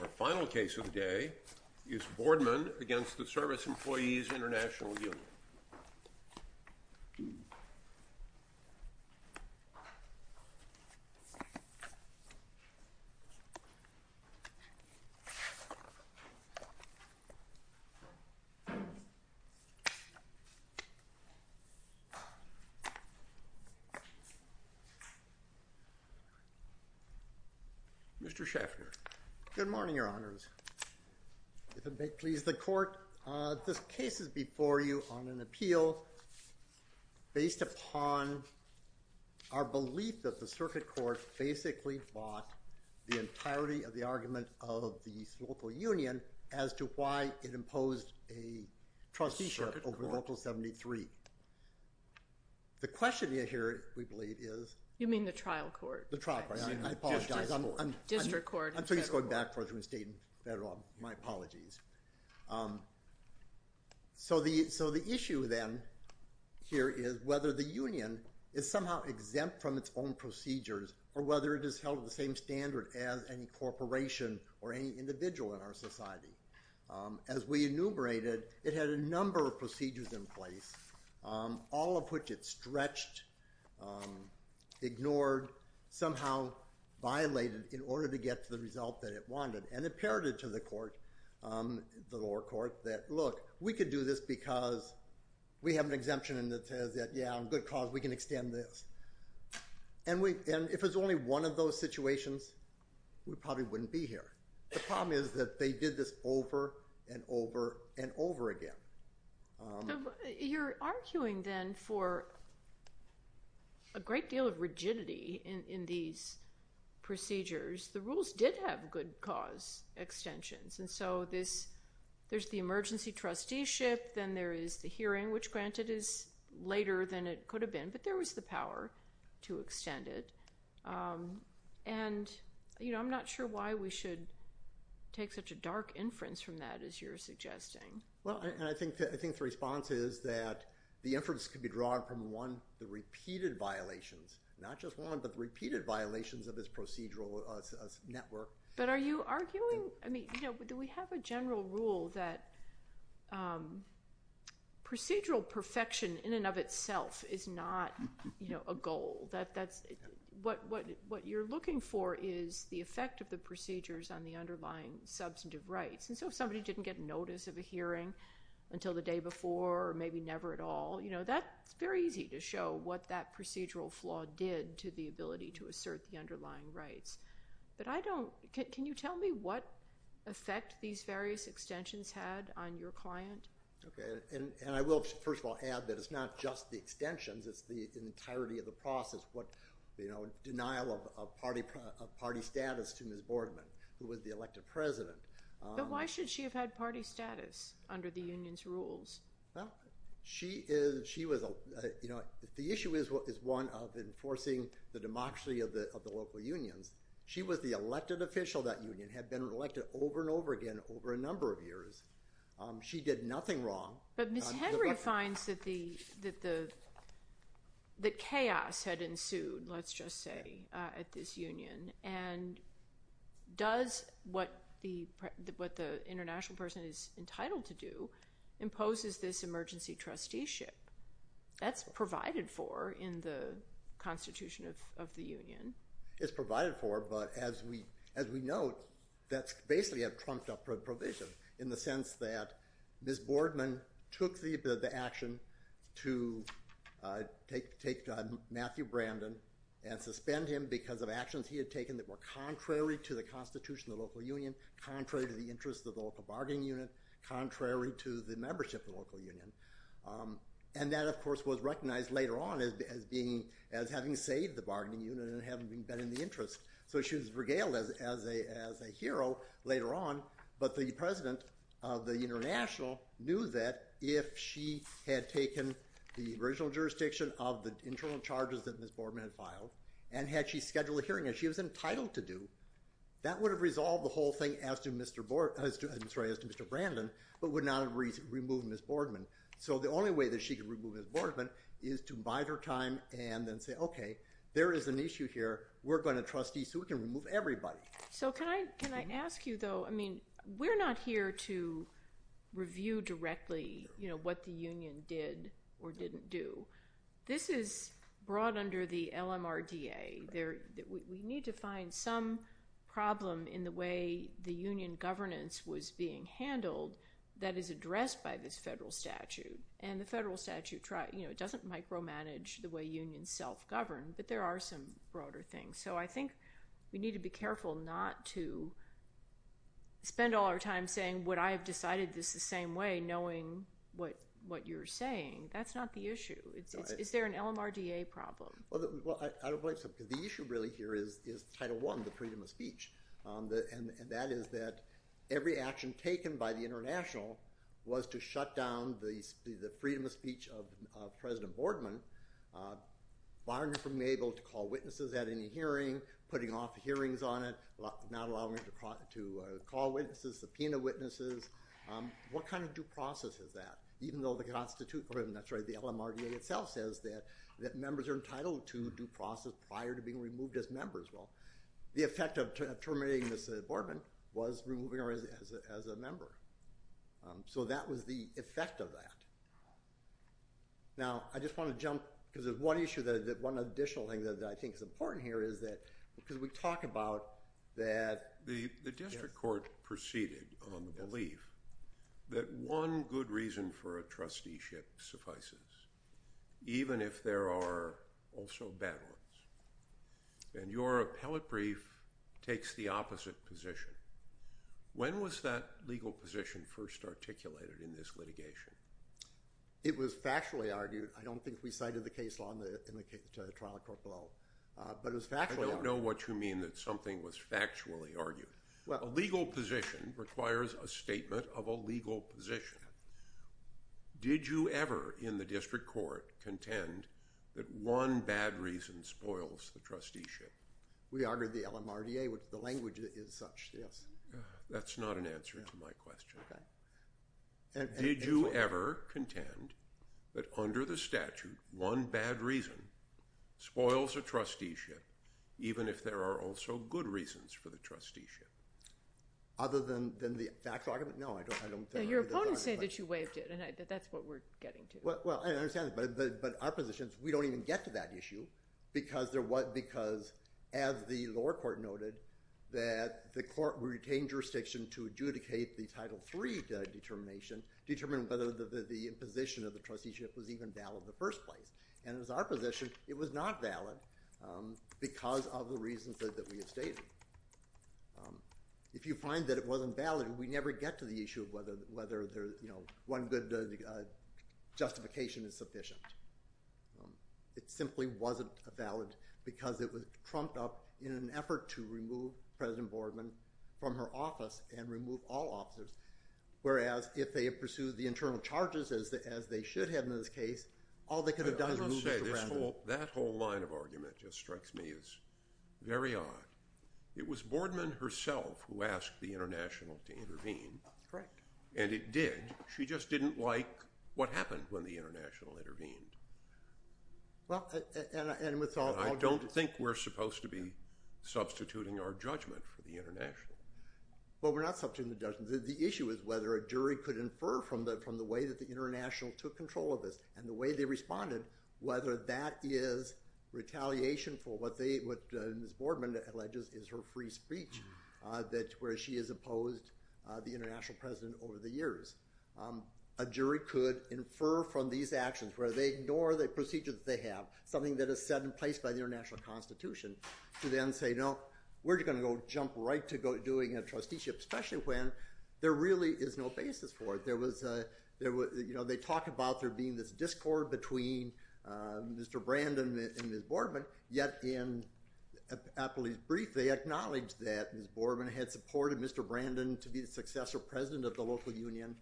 Our final case of the day is Boardman v. Service Employees International Union. Mr. Scheffner. Good morning, Your Honors. If it may please the Court, this case is before you on an appeal based upon our belief that the Circuit Court basically bought the entirety of the argument of the local union as to why it imposed a trusteeship over Local 73. The question here, we believe, is... You mean the Trial Court? The Trial Court. I apologize. District Court. District Court. I'm sorry, he's going back to where he stayed in federal. My apologies. So the issue then here is whether the union is somehow exempt from its own procedures or whether it is held at the same standard as any corporation or any individual in our society. As we enumerated, it had a number of procedures in place, all of which it stretched, ignored, somehow violated in order to get to the result that it wanted. And it parroted to the lower court that, look, we could do this because we have an exemption that says that, yeah, on good cause, we can extend this. And if it was only one of those situations, we probably wouldn't be here. The problem is that they did this over and over and over again. You're arguing then for a great deal of rigidity in these procedures. The rules did have good cause extensions. And so there's the emergency trusteeship, then there is the hearing, which, granted, is later than it could have been, but there was the power to extend it. And I'm not sure why we should take such a dark inference from that, as you're suggesting. Well, and I think the response is that the inference could be drawn from, one, the repeated violations, not just one, but the repeated violations of this procedural network. But are you arguing – I mean, do we have a general rule that procedural perfection in and of itself is not a goal? What you're looking for is the effect of the procedures on the underlying substantive rights. And so if somebody didn't get notice of a hearing until the day before or maybe never at all, that's very easy to show what that procedural flaw did to the ability to assert the underlying rights. But I don't – can you tell me what effect these various extensions had on your client? Okay. And I will, first of all, add that it's not just the extensions. It's the entirety of the process. What, you know, denial of party status to Ms. Boardman, who was the elected president. But why should she have had party status under the union's rules? Well, she was – you know, the issue is one of enforcing the democracy of the local unions. She was the elected official of that union, had been elected over and over again over a number of years. She did nothing wrong. But Ms. Henry finds that the – that chaos had ensued, let's just say, at this union. And does what the international person is entitled to do imposes this emergency trusteeship? That's provided for in the constitution of the union. It's provided for, but as we note, that's basically a trumped-up provision in the sense that Ms. Boardman took the action to take Matthew Brandon and suspend him because of actions he had taken that were contrary to the constitution of the local union, contrary to the interests of the local bargaining unit, contrary to the membership of the local union. And that, of course, was recognized later on as being – as having saved the bargaining unit and having been in the interest. So she was regaled as a hero later on. But the president of the international knew that if she had taken the original jurisdiction of the internal charges that Ms. Boardman had filed and had she scheduled a hearing, as she was entitled to do, that would have resolved the whole thing as to Mr. – I'm sorry, as to Mr. Brandon, but would not have removed Ms. Boardman. So the only way that she could remove Ms. Boardman is to bide her time and then say, okay, there is an issue here, we're going to trustee so we can remove everybody. So can I ask you, though – I mean, we're not here to review directly what the union did or didn't do. This is brought under the LMRDA. We need to find some problem in the way the union governance was being handled that is addressed by this federal statute. And the federal statute doesn't micromanage the way unions self-govern, but there are some broader things. So I think we need to be careful not to spend all our time saying, would I have decided this the same way, knowing what you're saying. That's not the issue. Is there an LMRDA problem? Well, I don't believe so, because the issue really here is Title I, the freedom of speech. And that is that every action taken by the international was to shut down the freedom of speech of President Boardman, barring him from being able to call witnesses at any hearing, putting off hearings on it, not allowing him to call witnesses, subpoena witnesses. What kind of due process is that? Even though the LMRDA itself says that members are entitled to due process prior to being removed as members. Well, the effect of terminating Mr. Boardman was removing him as a member. So that was the effect of that. Now, I just want to jump, because there's one issue, one additional thing that I think is important here is that, because we talk about that. The district court proceeded on the belief that one good reason for a trusteeship suffices, even if there are also bad ones. And your appellate brief takes the opposite position. When was that legal position first articulated in this litigation? It was factually argued. I don't think we cited the case law in the trial court below, but it was factually argued. I don't know what you mean that something was factually argued. A legal position requires a statement of a legal position. Did you ever in the district court contend that one bad reason spoils the trusteeship? We argued the LMRDA, which the language is such, yes. That's not an answer to my question. Did you ever contend that under the statute, one bad reason spoils a trusteeship, even if there are also good reasons for the trusteeship? Other than the factual argument? No, I don't think. Your opponent said that you waived it, and that's what we're getting to. I understand that, but our position is we don't even get to that issue because, as the lower court noted, that the court retained jurisdiction to adjudicate the Title III determination, determining whether the imposition of the trusteeship was even valid in the first place. And it was our position it was not valid because of the reasons that we had stated. If you find that it wasn't valid, we never get to the issue of whether one good justification is sufficient. It simply wasn't valid because it was trumped up in an effort to remove President Boardman from her office and remove all officers, whereas if they had pursued the internal charges as they should have in this case, all they could have done is move it around. That whole line of argument just strikes me as very odd. It was Boardman herself who asked the International to intervene. Correct. And it did. She just didn't like what happened when the International intervened. And I don't think we're supposed to be substituting our judgment for the International. Well, we're not substituting the judgment. The issue is whether a jury could infer from the way that the International took control of this and the way they responded whether that is retaliation for what Ms. Boardman alleges is her free speech where she has opposed the International President over the years. A jury could infer from these actions, whether they ignore the procedure that they have, something that is set in place by the International Constitution, to then say, no, we're just going to go jump right to doing a trusteeship, especially when there really is no basis for it. They talk about there being this discord between Mr. Brandon and Ms. Boardman, yet in Apley's brief they acknowledge that Ms. Boardman had supported Mr. Brandon to be the successor president of the local union,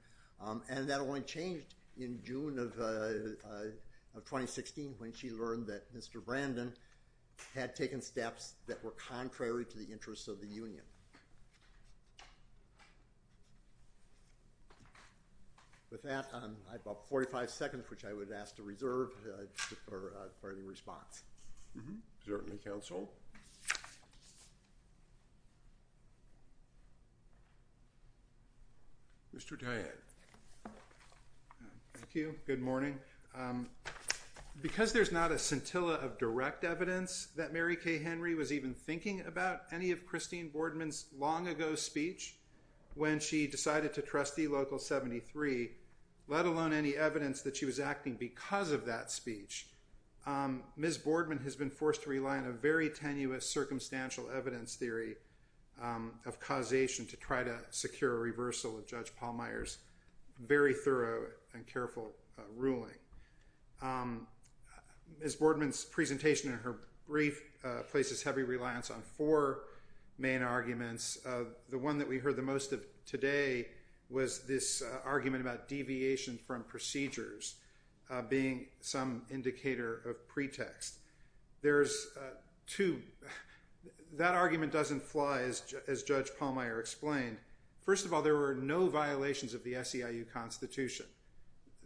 and that only changed in June of 2016 when she learned that Mr. Brandon had taken steps that were contrary to the interests of the union. With that, I have about 45 seconds, which I would ask to reserve for any response. Certainly, counsel. Mr. Dyad. Thank you. Good morning. Because there's not a scintilla of direct evidence that Mary Kay Henry was even thinking about any of Christine Boardman's long-ago speech when she decided to trust the local 73, let alone any evidence that she was acting because of that speech, Ms. Boardman has been forced to rely on a very tenuous circumstantial evidence theory of causation to try to secure a reversal of Judge Pallmeyer's very thorough and careful ruling. Ms. Boardman's presentation in her brief places heavy reliance on four main arguments. The one that we heard the most of today was this argument about deviation from procedures being some indicator of pretext. That argument doesn't fly as Judge Pallmeyer explained. First of all, there were no violations of the SEIU Constitution.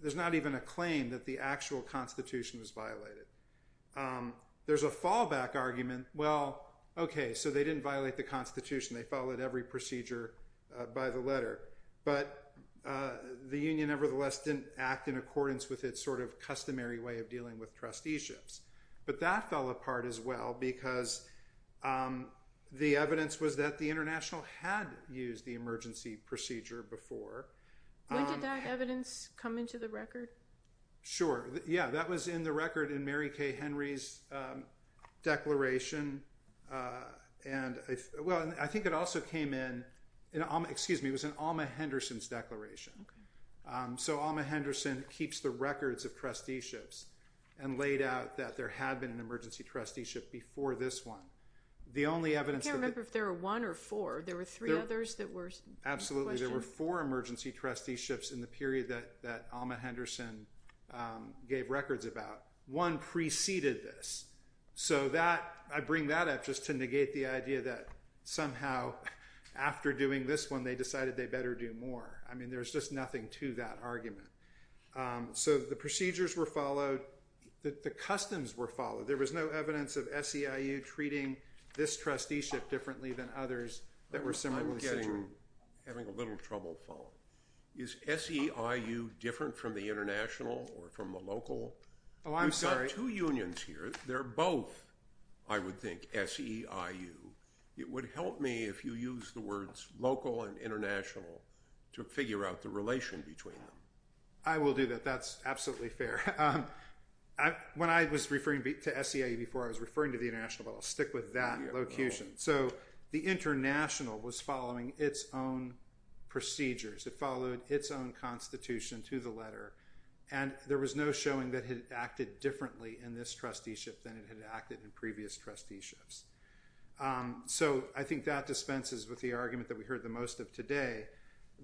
There's not even a claim that the actual Constitution was violated. There's a fallback argument. Well, okay, so they didn't violate the Constitution. They followed every procedure by the letter. But the union nevertheless didn't act in accordance with its sort of customary way of dealing with trusteeships. But that fell apart as well because the evidence was that the International had used the emergency procedure before. When did that evidence come into the record? Yeah, that was in the record in Mary K. Henry's declaration. Well, I think it also came in, excuse me, it was in Alma Henderson's declaration. So Alma Henderson keeps the records of trusteeships and laid out that there had been an emergency trusteeship before this one. I can't remember if there were one or four. There were three others that were in question. Actually, there were four emergency trusteeships in the period that Alma Henderson gave records about. One preceded this. So that, I bring that up just to negate the idea that somehow after doing this one they decided they better do more. I mean, there's just nothing to that argument. So the procedures were followed. The customs were followed. There was no evidence of SEIU treating this trusteeship differently than others that were similarly scheduled. I'm having a little trouble following. Is SEIU different from the International or from the local? Oh, I'm sorry. We've got two unions here. They're both, I would think, SEIU. It would help me if you use the words local and international to figure out the relation between them. I will do that. That's absolutely fair. When I was referring to SEIU before, I was referring to the International, but I'll stick with that location. So the International was following its own procedures. It followed its own constitution to the letter. And there was no showing that it had acted differently in this trusteeship than it had acted in previous trusteeships. So I think that dispenses with the argument that we heard the most of today.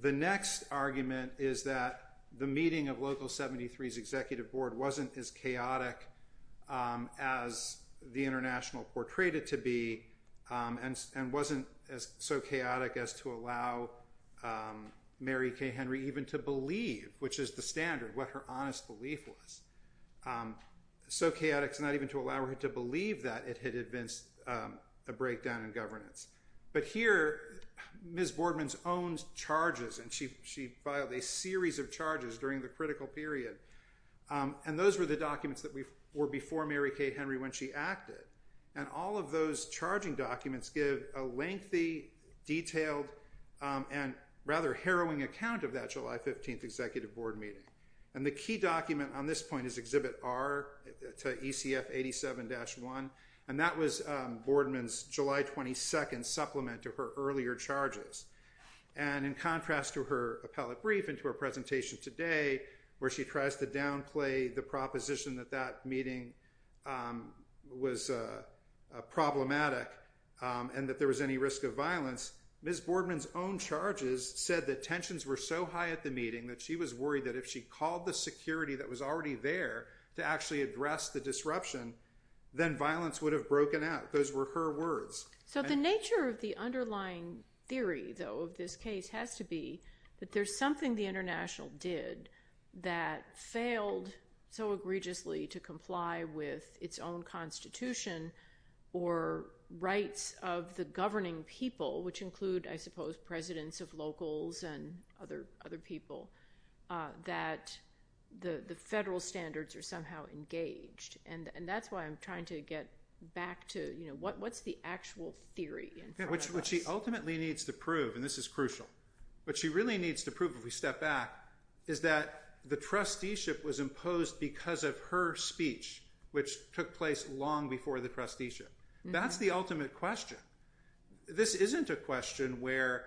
The next argument is that the meeting of Local 73's executive board wasn't as chaotic as the International portrayed it to be and wasn't so chaotic as to allow Mary K. Henry even to believe, which is the standard, what her honest belief was. So chaotic as not even to allow her to believe that it had evinced a breakdown in governance. But here, Ms. Boardman's own charges, and she filed a series of charges during the critical period. And those were the documents that were before Mary K. Henry when she acted. And all of those charging documents give a lengthy, detailed, and rather harrowing account of that July 15th executive board meeting. And the key document on this point is Exhibit R to ECF 87-1. And that was Boardman's July 22nd supplement to her earlier charges. And in contrast to her appellate brief and to her presentation today where she tries to downplay the proposition that that meeting was problematic and that there was any risk of violence, Ms. Boardman's own charges said that tensions were so high at the meeting that she was worried that if she called the security that was already there to actually address the disruption, then violence would have broken out. Those were her words. So the nature of the underlying theory, though, of this case has to be that there's something the international did that failed so egregiously to comply with its own constitution or rights of the governing people, which include, I suppose, presidents of locals and other people, that the federal standards are somehow engaged. And that's why I'm trying to get back to what's the actual theory in front of us. Yeah, what she ultimately needs to prove, and this is crucial, what she really needs to prove if we step back is that the trusteeship was imposed because of her speech, which took place long before the trusteeship. That's the ultimate question. This isn't a question where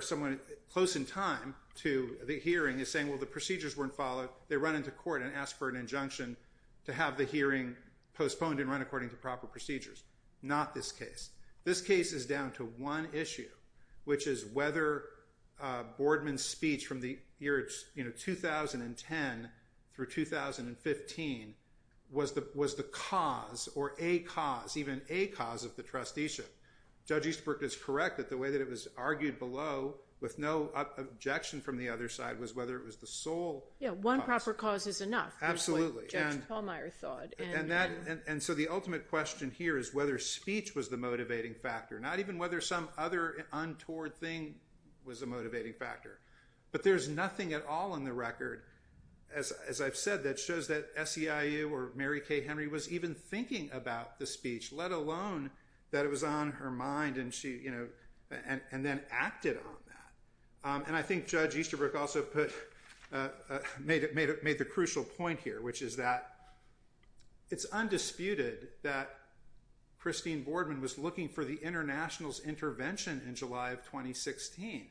someone close in time to the hearing is saying, well, the procedures weren't followed. They run into court and ask for an injunction to have the hearing postponed and run according to proper procedures. Not this case. This case is down to one issue, which is whether Boardman's speech from the year 2010 through 2015 was the cause or a cause, even a cause, of the trusteeship. Judge Eastbrook is correct that the way that it was argued below with no objection from the other side was whether it was the sole cause. Yeah, one proper cause is enough is what Judge Pallmeyer thought. And so the ultimate question here is whether speech was the motivating factor, not even whether some other untoward thing was a motivating factor. But there's nothing at all in the record, as I've said, that shows that SEIU or Mary Kay Henry was even thinking about the speech, let alone that it was on her mind and then acted on that. And I think Judge Easterbrook also made the crucial point here, which is that it's undisputed that Christine Boardman was looking for the international's intervention in July of 2016.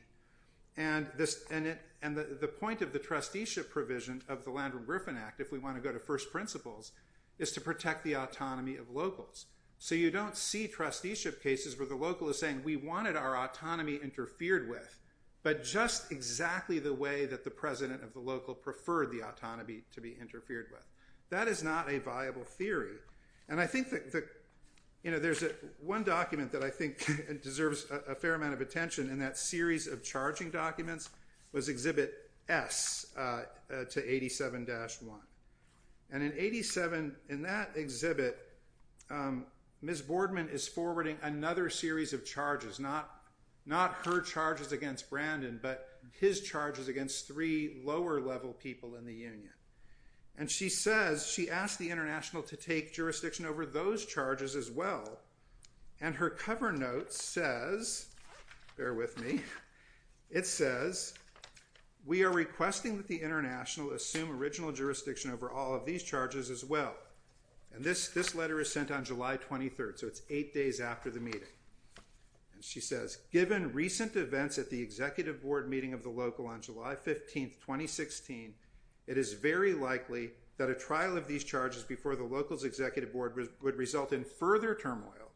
And the point of the trusteeship provision of the Landrum-Griffin Act, if we want to go to first principles, is to protect the autonomy of locals. So you don't see trusteeship cases where the local is saying, we wanted our autonomy interfered with, but just exactly the way that the president of the local preferred the autonomy to be interfered with. That is not a viable theory. And I think that there's one document that I think deserves a fair amount of attention in that series of charging documents was Exhibit S to 87-1. And in 87, in that exhibit, Ms. Boardman is forwarding another series of charges, not her charges against Brandon, but his charges against three lower level people in the union. And she says, she asked the international to take jurisdiction over those charges as well. And her cover note says, bear with me, it says, we are requesting that the international assume original jurisdiction over all of these charges as well. And this letter is sent on July 23rd, so it's eight days after the meeting. And she says, given recent events at the executive board meeting of the local on July 15th, 2016, it is very likely that a trial of these charges before the local's executive board would result in further turmoil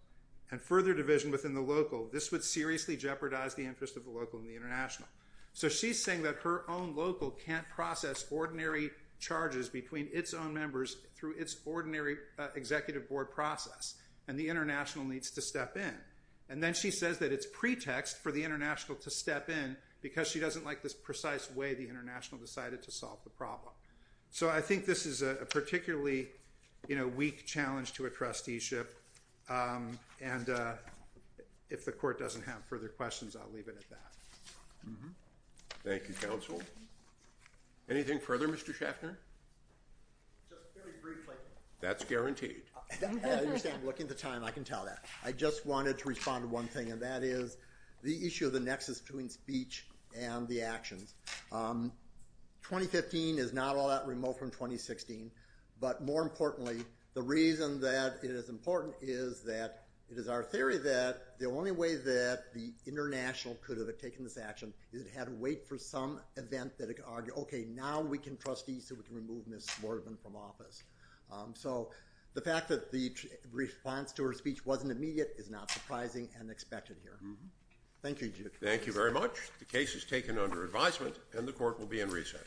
and further division within the local. This would seriously jeopardize the interest of the local and the international. So she's saying that her own local can't process ordinary charges between its own members through its ordinary executive board process, and the international needs to step in. And then she says that it's pretext for the international to step in because she doesn't like this precise way the international decided to solve the problem. So I think this is a particularly, you know, weak challenge to a trusteeship. And if the court doesn't have further questions, I'll leave it at that. Thank you, counsel. Anything further, Mr. Schaffner? Just very briefly. That's guaranteed. I understand. I'm looking at the time. I can tell that. I just wanted to respond to one thing, and that is the issue of the nexus between speech and the actions. 2015 is not all that remote from 2016. But more importantly, the reason that it is important is that it is our theory that the only way that the international could have taken this action is it had to wait for some event that it could argue, okay, now we can trustee so we can remove Ms. Lordman from office. So the fact that the response to her speech wasn't immediate is not surprising and expected here. Thank you, Judge. Thank you very much. The case is taken under advisement, and the court will be in recess.